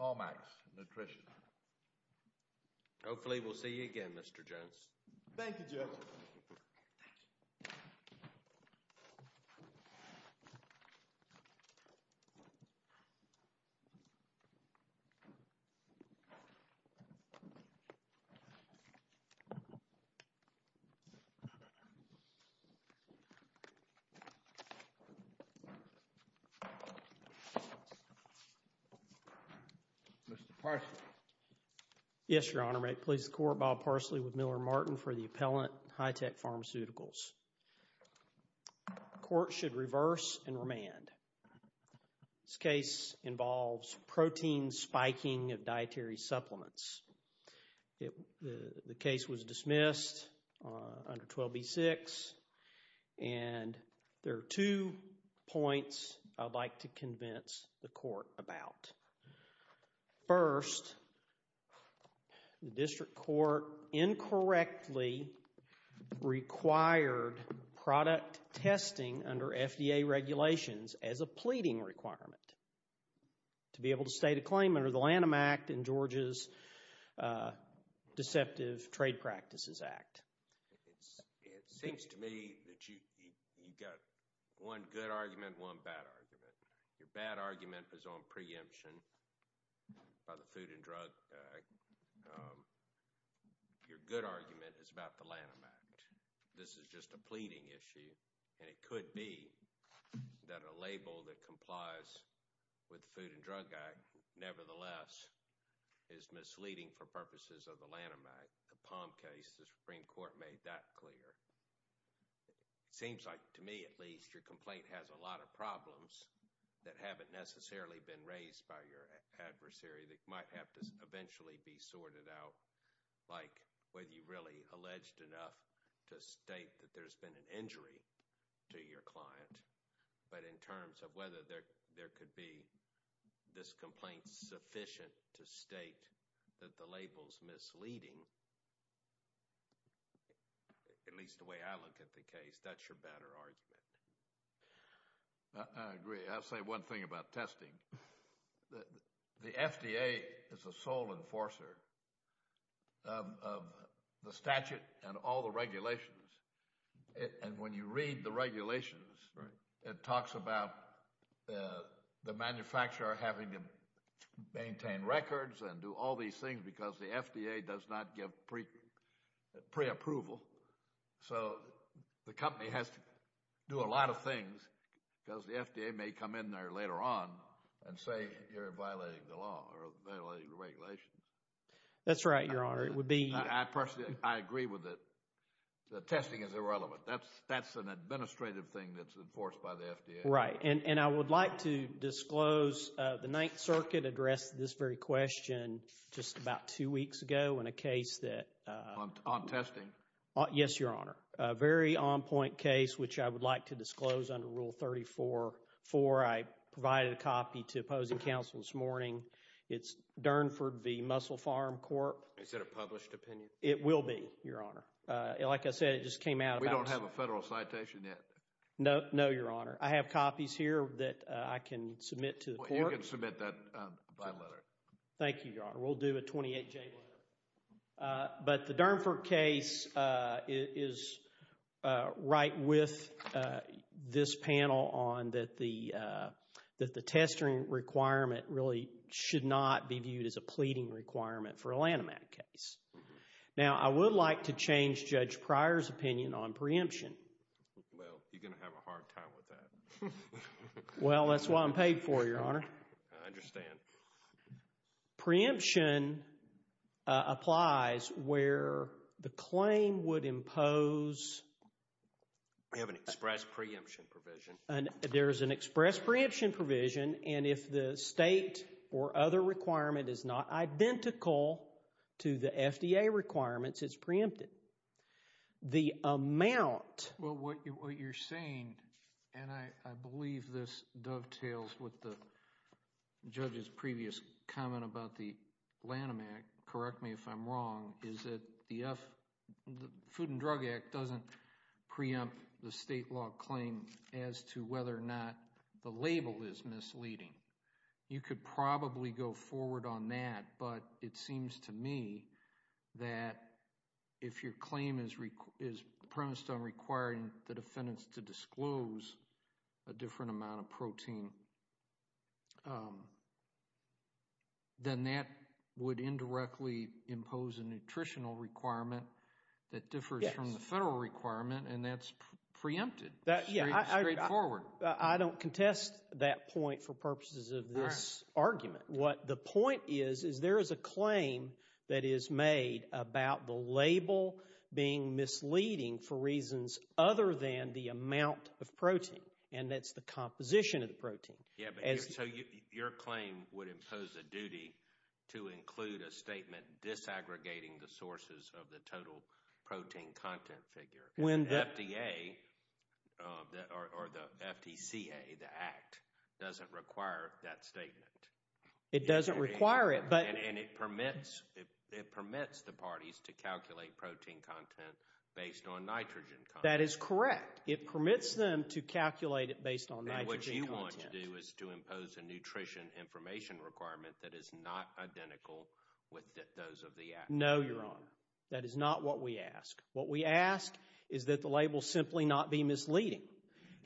Allmax Nutrition. Hopefully we'll see you again, Mr. Jones. Thank you, Judge. Mr. Parsley. Yes, Your Honor. May it please the Court, Bob Parsley with Miller & Martin for the appellant, Hi-Tech Pharmaceuticals. The Court should reverse and remand. This case involves protein spiking of dietary supplements. The case was dismissed under 12b-6. And there are two points I'd like to convince the Court about. First, the District Court incorrectly required product testing under FDA regulations as a pleading requirement to be able to state a claim under the Lanham Act and Georgia's Deceptive Trade Practices Act. It seems to me that you've got one good argument and one bad argument. Your bad argument is on preemption by the Food and Drug Act. Your good argument is about the Lanham Act. This is just a pleading issue, and it could be that a label that complies with the Food and Drug Act nevertheless is misleading for purposes of the Lanham Act. The Palm case, the Supreme Court made that clear. It seems like, to me at least, your complaint has a lot of problems that haven't necessarily been raised by your adversary that might have to eventually be sorted out, like whether you really alleged enough to state that there's been an injury to your client, but in terms of whether there could be this complaint sufficient to state that the label's misleading, at least the way I look at the case, that's your better argument. I agree. I'll say one thing about testing. The FDA is the sole enforcer of the statute and all the regulations, and when you read the regulations, it talks about the manufacturer having to maintain records and do all these things because the FDA does not give pre-approval, so the company has to do a lot of things because the FDA may come in there later on and say you're violating the law or violating the regulations. That's right, Your Honor. It would be— I personally agree with it. The testing is irrelevant. Right, and I would like to disclose the Ninth Circuit addressed this very question just about two weeks ago in a case that— On testing? Yes, Your Honor. A very on-point case which I would like to disclose under Rule 34-4. I provided a copy to opposing counsel this morning. It's Durnford v. Muscle Farm Corp. Is it a published opinion? It will be, Your Honor. Like I said, it just came out about— We don't have a federal citation yet. No, Your Honor. I have copies here that I can submit to the court. Well, you can submit that by letter. Thank you, Your Honor. We'll do a 28-J letter. But the Durnford case is right with this panel on that the testing requirement really should not be viewed as a pleading requirement for a Lanham Act case. Now, I would like to change Judge Pryor's opinion on preemption. Well, you're going to have a hard time with that. Well, that's why I'm paid for, Your Honor. I understand. Preemption applies where the claim would impose— We have an express preemption provision. There is an express preemption provision, and if the state or other requirement is not identical to the FDA requirements, it's preempted. The amount— Well, what you're saying, and I believe this dovetails with the judge's previous comment about the Lanham Act, correct me if I'm wrong, is that the Food and Drug Act doesn't preempt the state law claim as to whether or not the label is misleading. You could probably go forward on that, but it seems to me that if your claim is premised on requiring the defendant to disclose a different amount of protein, then that would indirectly impose a nutritional requirement that differs from the federal requirement, and that's preempted. It's straightforward. I don't contest that point for purposes of this argument. What the point is is there is a claim that is made about the label being misleading for reasons other than the amount of protein, and that's the composition of the protein. Yeah, but so your claim would impose a duty to include a statement disaggregating the sources of the total protein content figure. The FDA or the FDCA, the Act, doesn't require that statement. It doesn't require it, but— And it permits the parties to calculate protein content based on nitrogen content. That is correct. It permits them to calculate it based on nitrogen content. And what you want to do is to impose a nutrition information requirement that is not identical with those of the Act. No, Your Honor. That is not what we ask. What we ask is that the label simply not be misleading.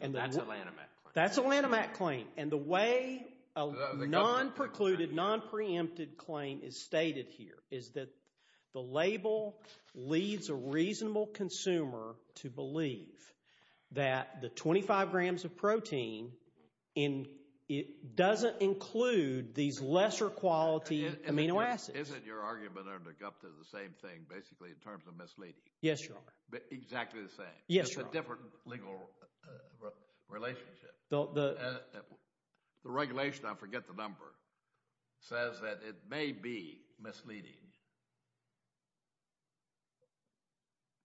And that's a Lanham Act claim. That's a Lanham Act claim. And the way a non-precluded, non-preempted claim is stated here is that the label leads a reasonable consumer to believe that the 25 grams of protein doesn't include these lesser quality amino acids. Isn't your argument under Gupta the same thing basically in terms of misleading? Yes, Your Honor. Exactly the same? Yes, Your Honor. It's a different legal relationship. The regulation, I forget the number, says that it may be misleading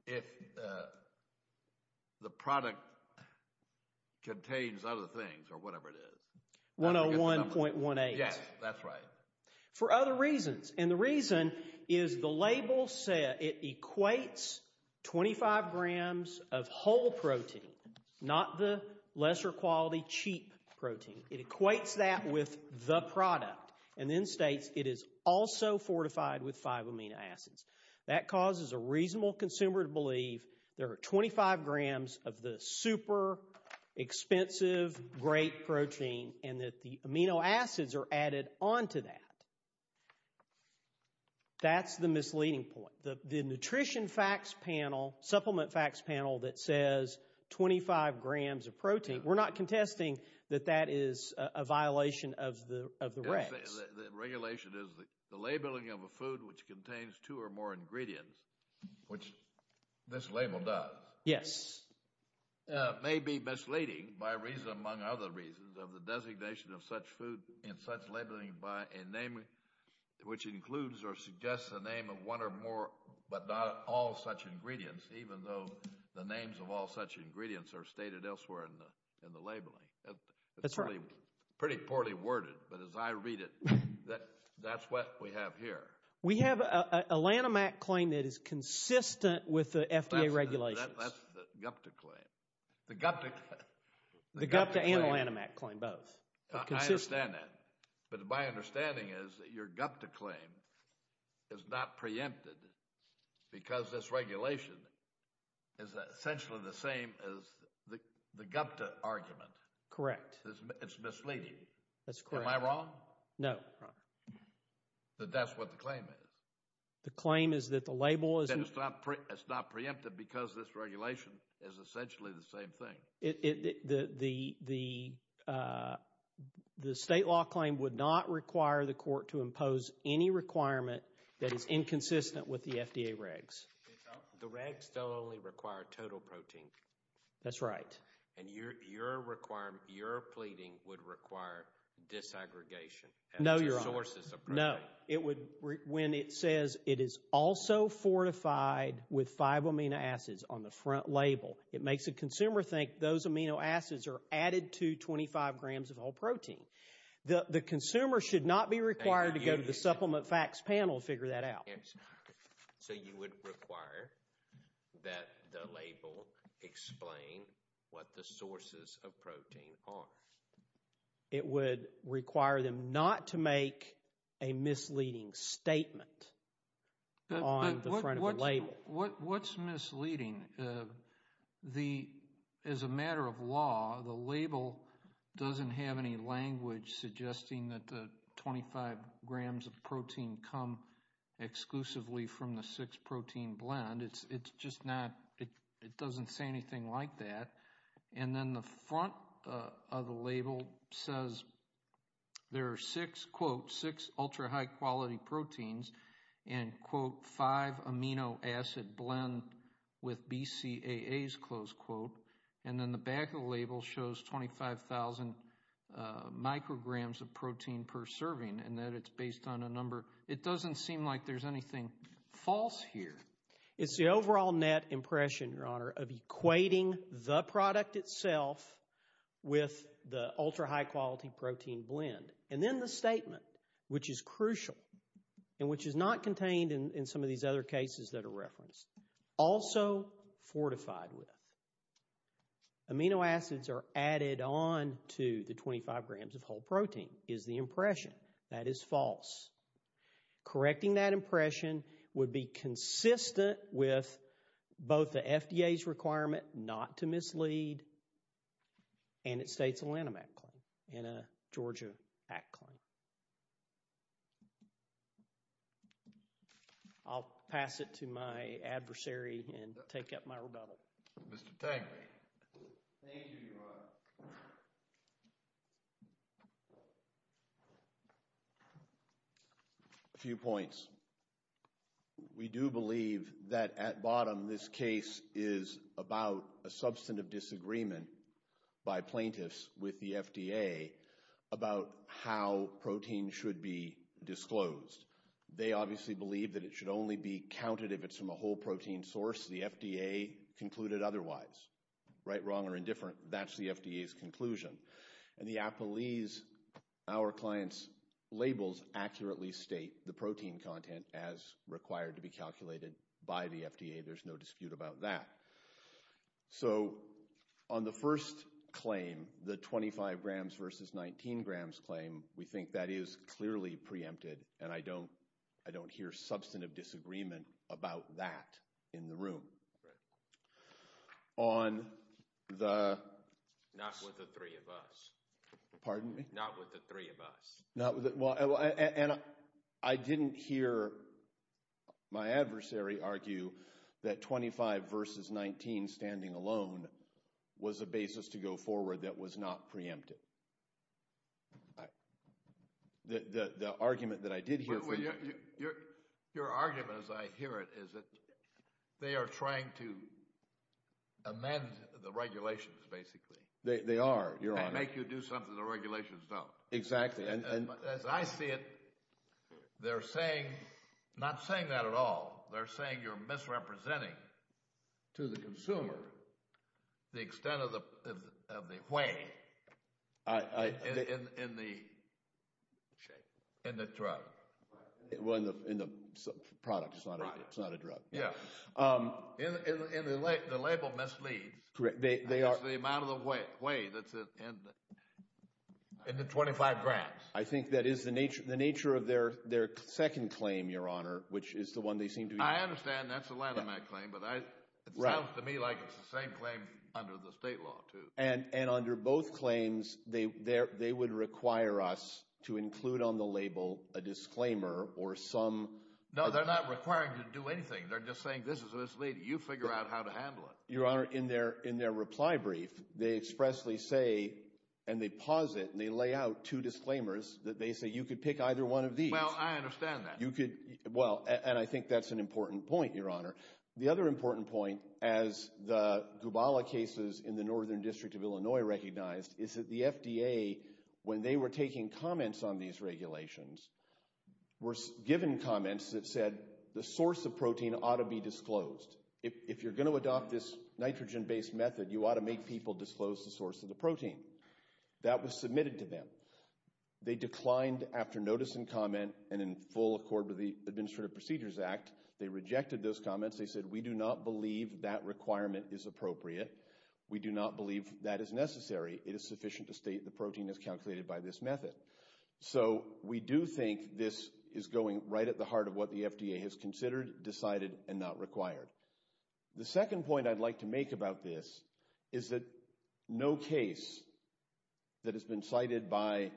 if the product contains other things or whatever it is. 101.18. Yes, that's right. For other reasons. And the reason is the label said it equates 25 grams of whole protein, not the lesser quality, cheap protein. It equates that with the product and then states it is also fortified with five amino acids. That causes a reasonable consumer to believe there are 25 grams of the super expensive great protein and that the amino acids are added onto that. That's the misleading point. The nutrition facts panel, supplement facts panel that says 25 grams of protein, we're not contesting that that is a violation of the regs. The regulation is the labeling of a food which contains two or more ingredients, which this label does. Yes. It may be misleading by reason among other reasons of the designation of such food and such labeling by a name which includes or suggests a name of one or more but not all such ingredients, even though the names of all such ingredients are stated elsewhere in the labeling. That's right. It's pretty poorly worded, but as I read it, that's what we have here. We have a Lanhamac claim that is consistent with the FDA regulations. That's the Gupta claim. The Gupta and Lanhamac claim both. I understand that, but my understanding is that your Gupta claim is not preempted because this regulation is essentially the same as the Gupta argument. Correct. It's misleading. That's correct. Am I wrong? No. That's what the claim is. The claim is that the label is not preempted because this regulation is essentially the same thing. The state law claim would not require the court to impose any requirement that is inconsistent with the FDA regs. The regs don't only require total protein. That's right. And your pleading would require disaggregation. No, Your Honor. No. When it says it is also fortified with five amino acids on the front label, it makes the consumer think those amino acids are added to 25 grams of whole protein. The consumer should not be required to go to the supplement facts panel to figure that out. So you would require that the label explain what the sources of protein are. It would require them not to make a misleading statement on the front of the label. What's misleading? As a matter of law, the label doesn't have any language suggesting that the 25 grams of protein come exclusively from the six-protein blend. It doesn't say anything like that. And then the front of the label says there are six, quote, six ultra-high quality proteins and, quote, five amino acid blend with BCAAs, close quote. And then the back of the label shows 25,000 micrograms of protein per serving and that it's based on a number. It doesn't seem like there's anything false here. It's the overall net impression, Your Honor, of equating the product itself with the ultra-high quality protein blend. And then the statement, which is crucial, and which is not contained in some of these other cases that are referenced, also fortified with amino acids are added on to the 25 grams of whole protein, is the impression that is false. Correcting that impression would be consistent with both the FDA's requirement not to mislead and it states a Lanham Act claim and a Georgia Act claim. I'll pass it to my adversary and take up my rebuttal. Thank you, Your Honor. A few points. We do believe that at bottom this case is about a substantive disagreement by plaintiffs with the FDA about how protein should be disclosed. They obviously believe that it should only be counted if it's from a whole protein source. The FDA concluded otherwise. Right, wrong, or indifferent, that's the FDA's conclusion. And the Applees, our client's labels, accurately state the protein content as required to be calculated by the FDA. There's no dispute about that. So on the first claim, the 25 grams versus 19 grams claim, we think that is clearly preempted and I don't hear substantive disagreement about that in the room. On the... Not with the three of us. Pardon me? Not with the three of us. And I didn't hear my adversary argue that 25 versus 19 standing alone was a basis to go forward that was not preempted. The argument that I did hear... Your argument, as I hear it, is that they are trying to amend the regulations, basically. They are, Your Honor. And make you do something the regulations don't. Exactly. As I see it, they're saying, not saying that at all, they're saying you're misrepresenting to the consumer the extent of the weight in the drug. In the product, it's not a drug. Yeah. The label misleads. Correct. It's the amount of the weight that's in the 25 grams. I think that is the nature of their second claim, Your Honor, which is the one they seem to be... I understand that's a Lanham Act claim, but it sounds to me like it's the same claim under the state law, too. And under both claims, they would require us to include on the label a disclaimer or some... No, they're not requiring you to do anything. They're just saying, this is this lady. You figure out how to handle it. Your Honor, in their reply brief, they expressly say, and they pause it, and they lay out two disclaimers that they say you could pick either one of these. Well, I understand that. Well, and I think that's an important point, Your Honor. The other important point, as the Gubala cases in the Northern District of Illinois recognized, is that the FDA, when they were taking comments on these regulations, were given comments that said the source of protein ought to be disclosed. If you're going to adopt this nitrogen-based method, you ought to make people disclose the source of the protein. That was submitted to them. They declined after notice and comment, and in full accord with the Administrative Procedures Act, they rejected those comments. They said, we do not believe that requirement is appropriate. We do not believe that is necessary. It is sufficient to state the protein is calculated by this method. So we do think this is going right at the heart of what the FDA has considered, decided, and not required. The second point I'd like to make about this is that no case that has been cited by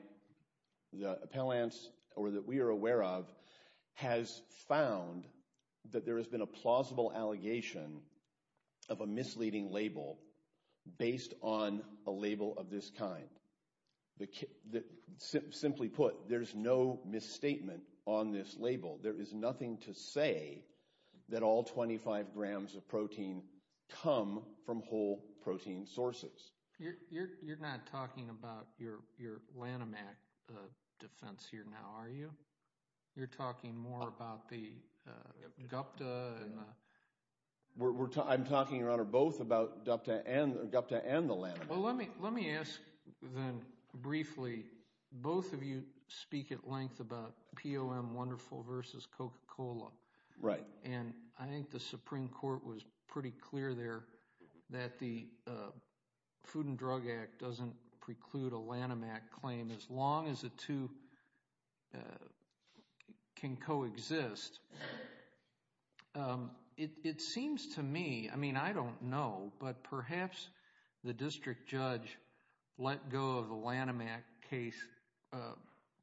the appellants or that we are aware of has found that there has been a plausible allegation of a misleading label based on a label of this kind. Simply put, there's no misstatement on this label. There is nothing to say that all 25 grams of protein come from whole protein sources. You're not talking about your Lanomac defense here now, are you? You're talking more about the Gupta. I'm talking, Your Honor, both about Gupta and the Lanomac. Well, let me ask then briefly, both of you speak at length about POM Wonderful versus Coca-Cola. Right. And I think the Supreme Court was pretty clear there that the Food and Drug Act doesn't preclude a Lanomac claim as long as the two can coexist. It seems to me, I mean, I don't know, but perhaps the district judge let go of the Lanomac case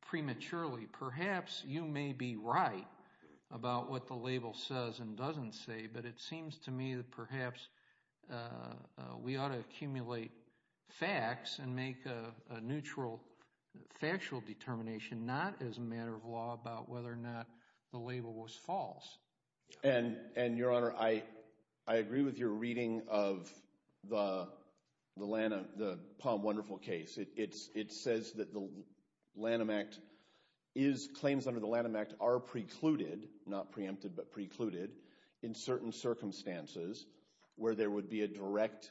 prematurely. Perhaps you may be right about what the label says and doesn't say, but it seems to me that perhaps we ought to accumulate facts and make a neutral factual determination, not as a matter of law, about whether or not the label was false. And, Your Honor, I agree with your reading of the POM Wonderful case. It says that the Lanomac claims under the Lanomac are precluded, not preempted, but precluded, in certain circumstances where there would be a direct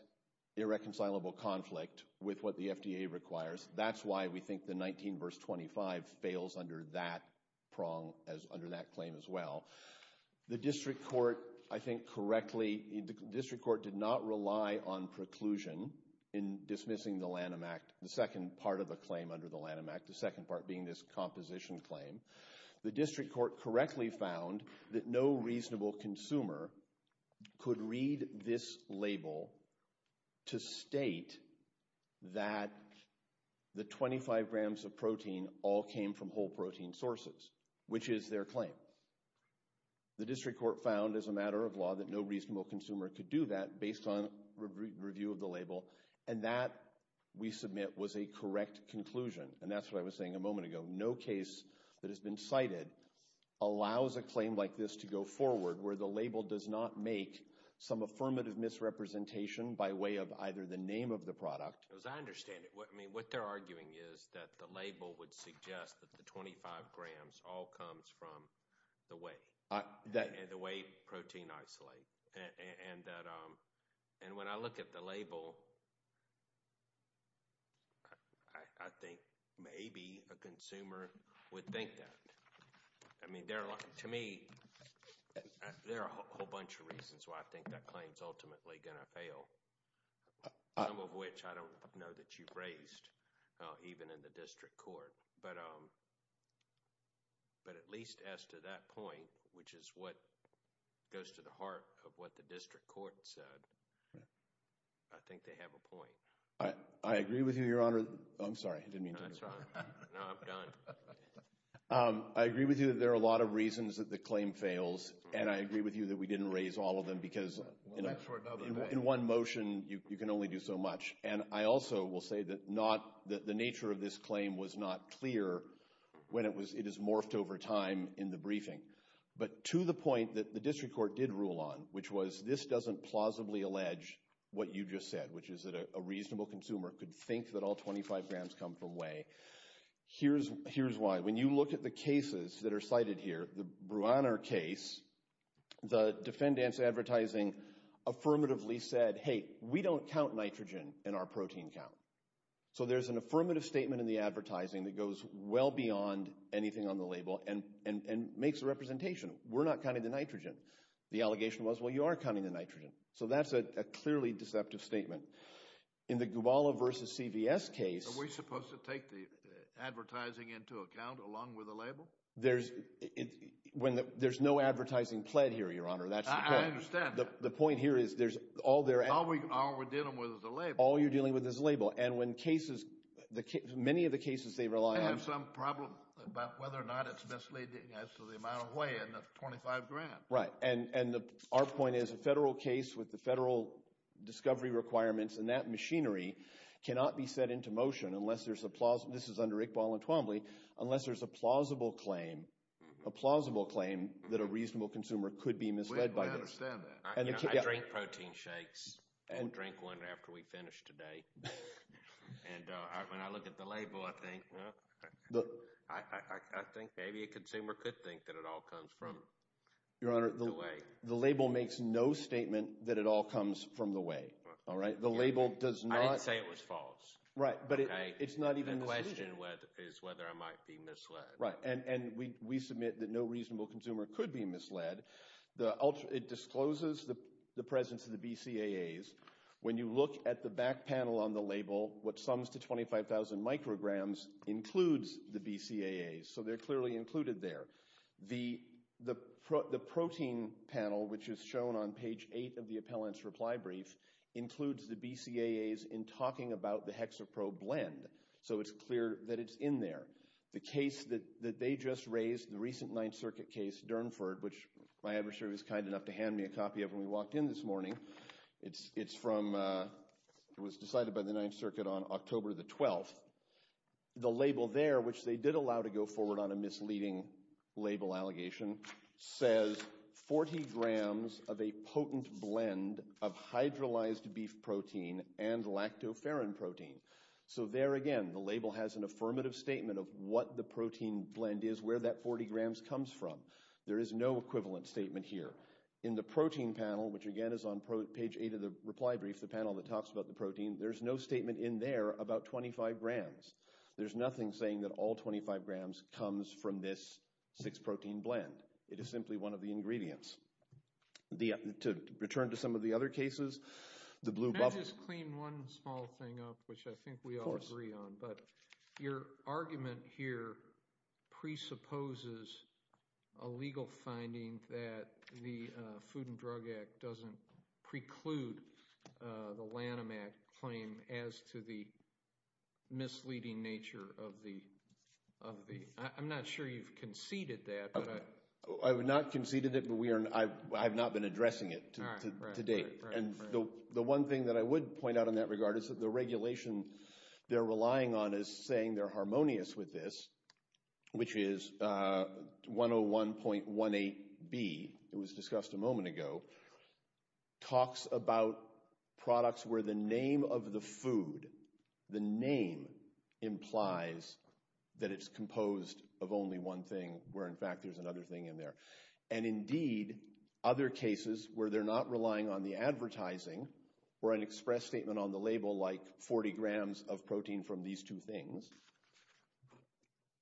irreconcilable conflict with what the FDA requires. That's why we think the 19 verse 25 fails under that claim as well. The district court, I think correctly, the district court did not rely on preclusion in dismissing the Lanomac, the second part of the claim under the Lanomac, the second part being this composition claim. The district court correctly found that no reasonable consumer could read this label to state that the 25 grams of protein all came from whole protein sources, which is their claim. The district court found, as a matter of law, that no reasonable consumer could do that based on review of the label, and that, we submit, was a correct conclusion. And that's what I was saying a moment ago. No case that has been cited allows a claim like this to go forward where the label does not make some affirmative misrepresentation by way of either the name of the product. As I understand it, what they're arguing is that the label would suggest that the 25 grams all comes from the whey, and the whey protein isolate. And when I look at the label, I think maybe a consumer would think that. I mean, to me, there are a whole bunch of reasons why I think that claim is ultimately going to fail, some of which I don't know that you've raised, even in the district court. But at least as to that point, which is what goes to the heart of what the district court said, I think they have a point. I agree with you, Your Honor. I'm sorry. I didn't mean to interrupt. No, that's fine. No, I'm done. I agree with you that there are a lot of reasons that the claim fails, and I agree with you that we didn't raise all of them because in one motion you can only do so much. And I also will say that the nature of this claim was not clear when it is morphed over time in the briefing. But to the point that the district court did rule on, which was this doesn't plausibly allege what you just said, which is that a reasonable consumer could think that all 25 grams come from whey, here's why. When you look at the cases that are cited here, the Bruaner case, the defendant's advertising affirmatively said, hey, we don't count nitrogen in our protein count. So there's an affirmative statement in the advertising that goes well beyond anything on the label and makes a representation. We're not counting the nitrogen. The allegation was, well, you are counting the nitrogen. So that's a clearly deceptive statement. In the Gubala v. CVS case. Are we supposed to take the advertising into account along with the label? There's no advertising pled here, Your Honor, that's the point. I understand. The point here is there's all their. All we're dealing with is the label. All you're dealing with is the label. And when cases, many of the cases they rely on. They have some problem about whether or not it's misleading as to the amount of whey in the 25 grams. Right. And our point is a federal case with the federal discovery requirements and that machinery cannot be set into motion unless there's a plausible. This is under Iqbal and Twombly. Unless there's a plausible claim, a plausible claim that a reasonable consumer could be misled by this. We understand that. I drink protein shakes and drink one after we finish today. And when I look at the label, I think maybe a consumer could think that it all comes from it. Your Honor, the label makes no statement that it all comes from the whey. All right. The label does not. I didn't say it was false. Right. But it's not even. The question is whether I might be misled. Right. And we submit that no reasonable consumer could be misled. It discloses the presence of the BCAAs. When you look at the back panel on the label, what sums to 25,000 micrograms includes the BCAAs. So they're clearly included there. The protein panel, which is shown on page 8 of the appellant's reply brief, includes the BCAAs in talking about the hexaprobe blend. So it's clear that it's in there. The case that they just raised, the recent Ninth Circuit case, Durnford, which my adversary was kind enough to hand me a copy of when we walked in this morning. It's from the Ninth Circuit on October the 12th. The label there, which they did allow to go forward on a misleading label allegation, says 40 grams of a potent blend of hydrolyzed beef protein and lactoferrin protein. So there again the label has an affirmative statement of what the protein blend is, where that 40 grams comes from. There is no equivalent statement here. In the protein panel, which again is on page 8 of the reply brief, the panel that talks about the protein, there's no statement in there about 25 grams. There's nothing saying that all 25 grams comes from this six-protein blend. It is simply one of the ingredients. To return to some of the other cases, the blue bubble. Can I just clean one small thing up, which I think we all agree on? Of course. Your argument here presupposes a legal finding that the Food and Drug Act doesn't preclude the Lanham Act claim as to the misleading nature of the—I'm not sure you've conceded that. I have not conceded it, but I have not been addressing it to date. The one thing that I would point out in that regard is that the regulation they're relying on is saying they're harmonious with this, which is 101.18B. It was discussed a moment ago. Talks about products where the name of the food, the name implies that it's composed of only one thing, where in fact there's another thing in there. And indeed, other cases where they're not relying on the advertising or an express statement on the label like 40 grams of protein from these two things,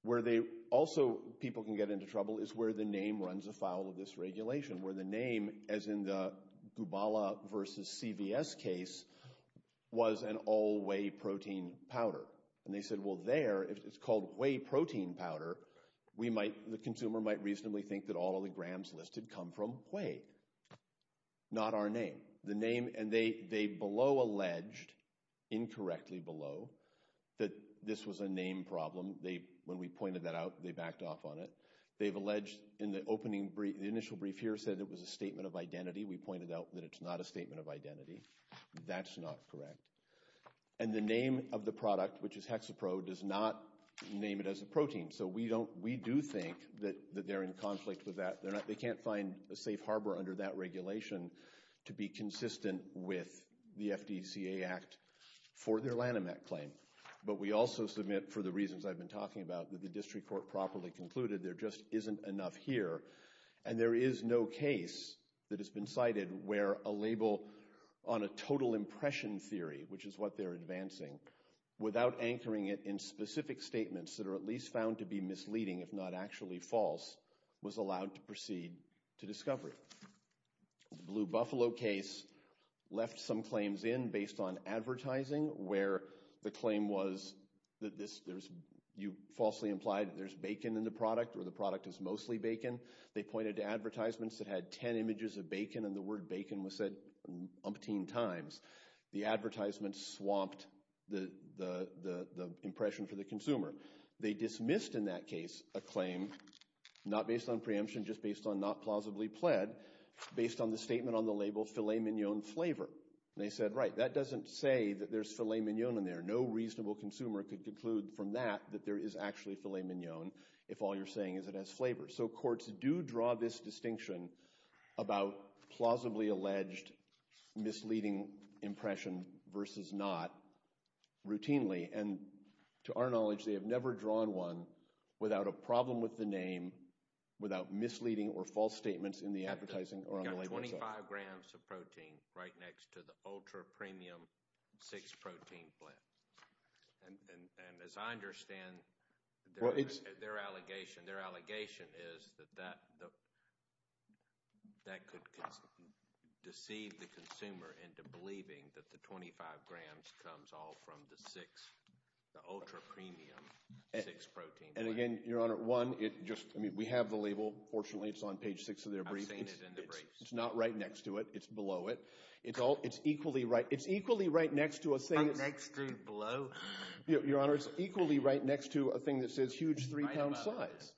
where they also—people can get into trouble—is where the name runs afoul of this regulation, where the name, as in the Gubala versus CVS case, was an all-whey protein powder. And they said, well, there, it's called whey protein powder. The consumer might reasonably think that all of the grams listed come from whey, not our name. The name—and they below alleged, incorrectly below, that this was a name problem. When we pointed that out, they backed off on it. They've alleged in the opening—the initial brief here said it was a statement of identity. We pointed out that it's not a statement of identity. That's not correct. And the name of the product, which is hexapro, does not name it as a protein. So we do think that they're in conflict with that. They can't find a safe harbor under that regulation to be consistent with the FDCA Act for their Lanimec claim. But we also submit, for the reasons I've been talking about, that the district court properly concluded there just isn't enough here. And there is no case that has been cited where a label on a total impression theory, which is what they're advancing, without anchoring it in specific statements that are at least found to be misleading, if not actually false, was allowed to proceed to discovery. The Blue Buffalo case left some claims in based on advertising where the claim was that this—you falsely implied there's bacon in the product or the product is mostly bacon. They pointed to advertisements that had 10 images of bacon, and the word bacon was said umpteen times. The advertisements swamped the impression for the consumer. They dismissed in that case a claim, not based on preemption, just based on not plausibly pled, based on the statement on the label filet mignon flavor. They said, right, that doesn't say that there's filet mignon in there. No reasonable consumer could conclude from that that there is actually filet mignon if all you're saying is it has flavor. So courts do draw this distinction about plausibly alleged misleading impression versus not routinely. And to our knowledge, they have never drawn one without a problem with the name, without misleading or false statements in the advertising or on the label itself. You've got 25 grams of protein right next to the ultra-premium six-protein blend. And as I understand their allegation, their allegation is that that could deceive the consumer into believing that the 25 grams comes all from the six, the ultra-premium six-protein blend. And again, Your Honor, one, we have the label. Fortunately, it's on page six of their brief. I've seen it in the briefs. It's not right next to it. It's below it. It's equally right next to a thing that says huge three-pound size.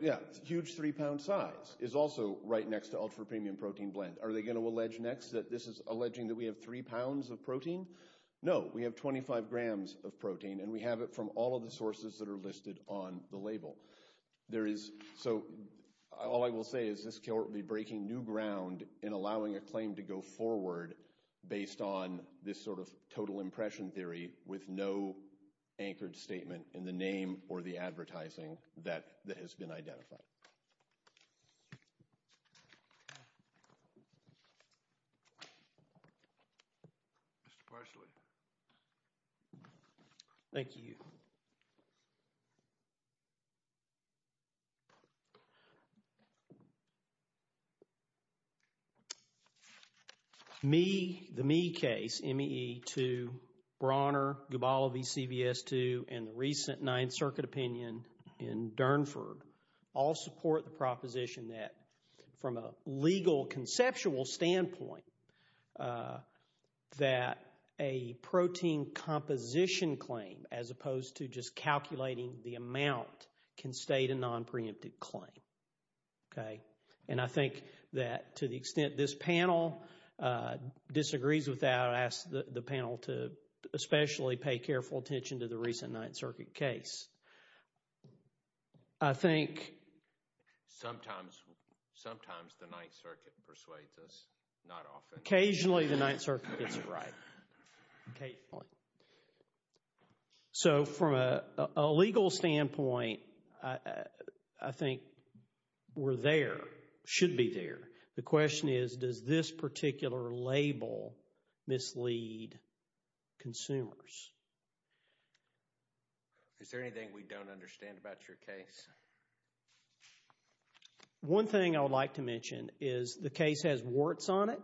Yeah, huge three-pound size is also right next to ultra-premium protein blend. Are they going to allege next that this is alleging that we have three pounds of protein? No. We have 25 grams of protein, and we have it from all of the sources that are listed on the label. So all I will say is this court will be breaking new ground in allowing a claim to go forward based on this sort of total impression theory with no anchored statement in the name or the advertising that has been identified. Mr. Parsley. Thank you. Me, the Me case, M-E-E-2, Brawner, Gubalo v. CVS2, and the recent Ninth Circuit opinion in Durnford all support the proposition that from a legal conceptual standpoint that a protein composition claim as opposed to just calculating the amount can state a non-preemptive claim. And I think that to the extent this panel disagrees with that, I ask the panel to especially pay careful attention to the recent Ninth Circuit case. I think... Sometimes the Ninth Circuit persuades us, not often. Occasionally the Ninth Circuit gets it right. So from a legal standpoint, I think we're there, should be there. The question is, does this particular label mislead consumers? Is there anything we don't understand about your case? One thing I would like to mention is the case has warts on it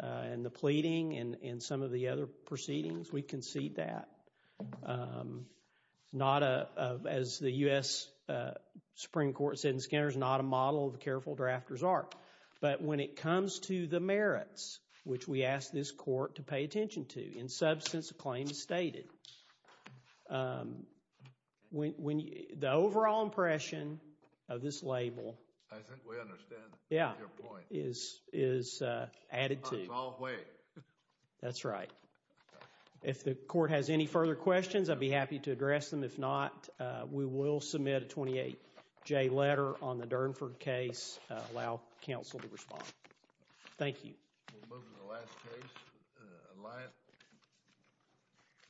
and the pleading and some of the other proceedings, we concede that. Not a, as the U.S. Supreme Court said in Skinner's, not a model of a careful drafter's art. But when it comes to the merits, which we ask this court to pay attention to, in substance, the claim is stated. The overall impression of this label... I think we understand your point. ...is added to. That's right. If the court has any further questions, I'd be happy to address them. If not, we will submit a 28-J letter on the Durnford case, allow counsel to respond. Thank you.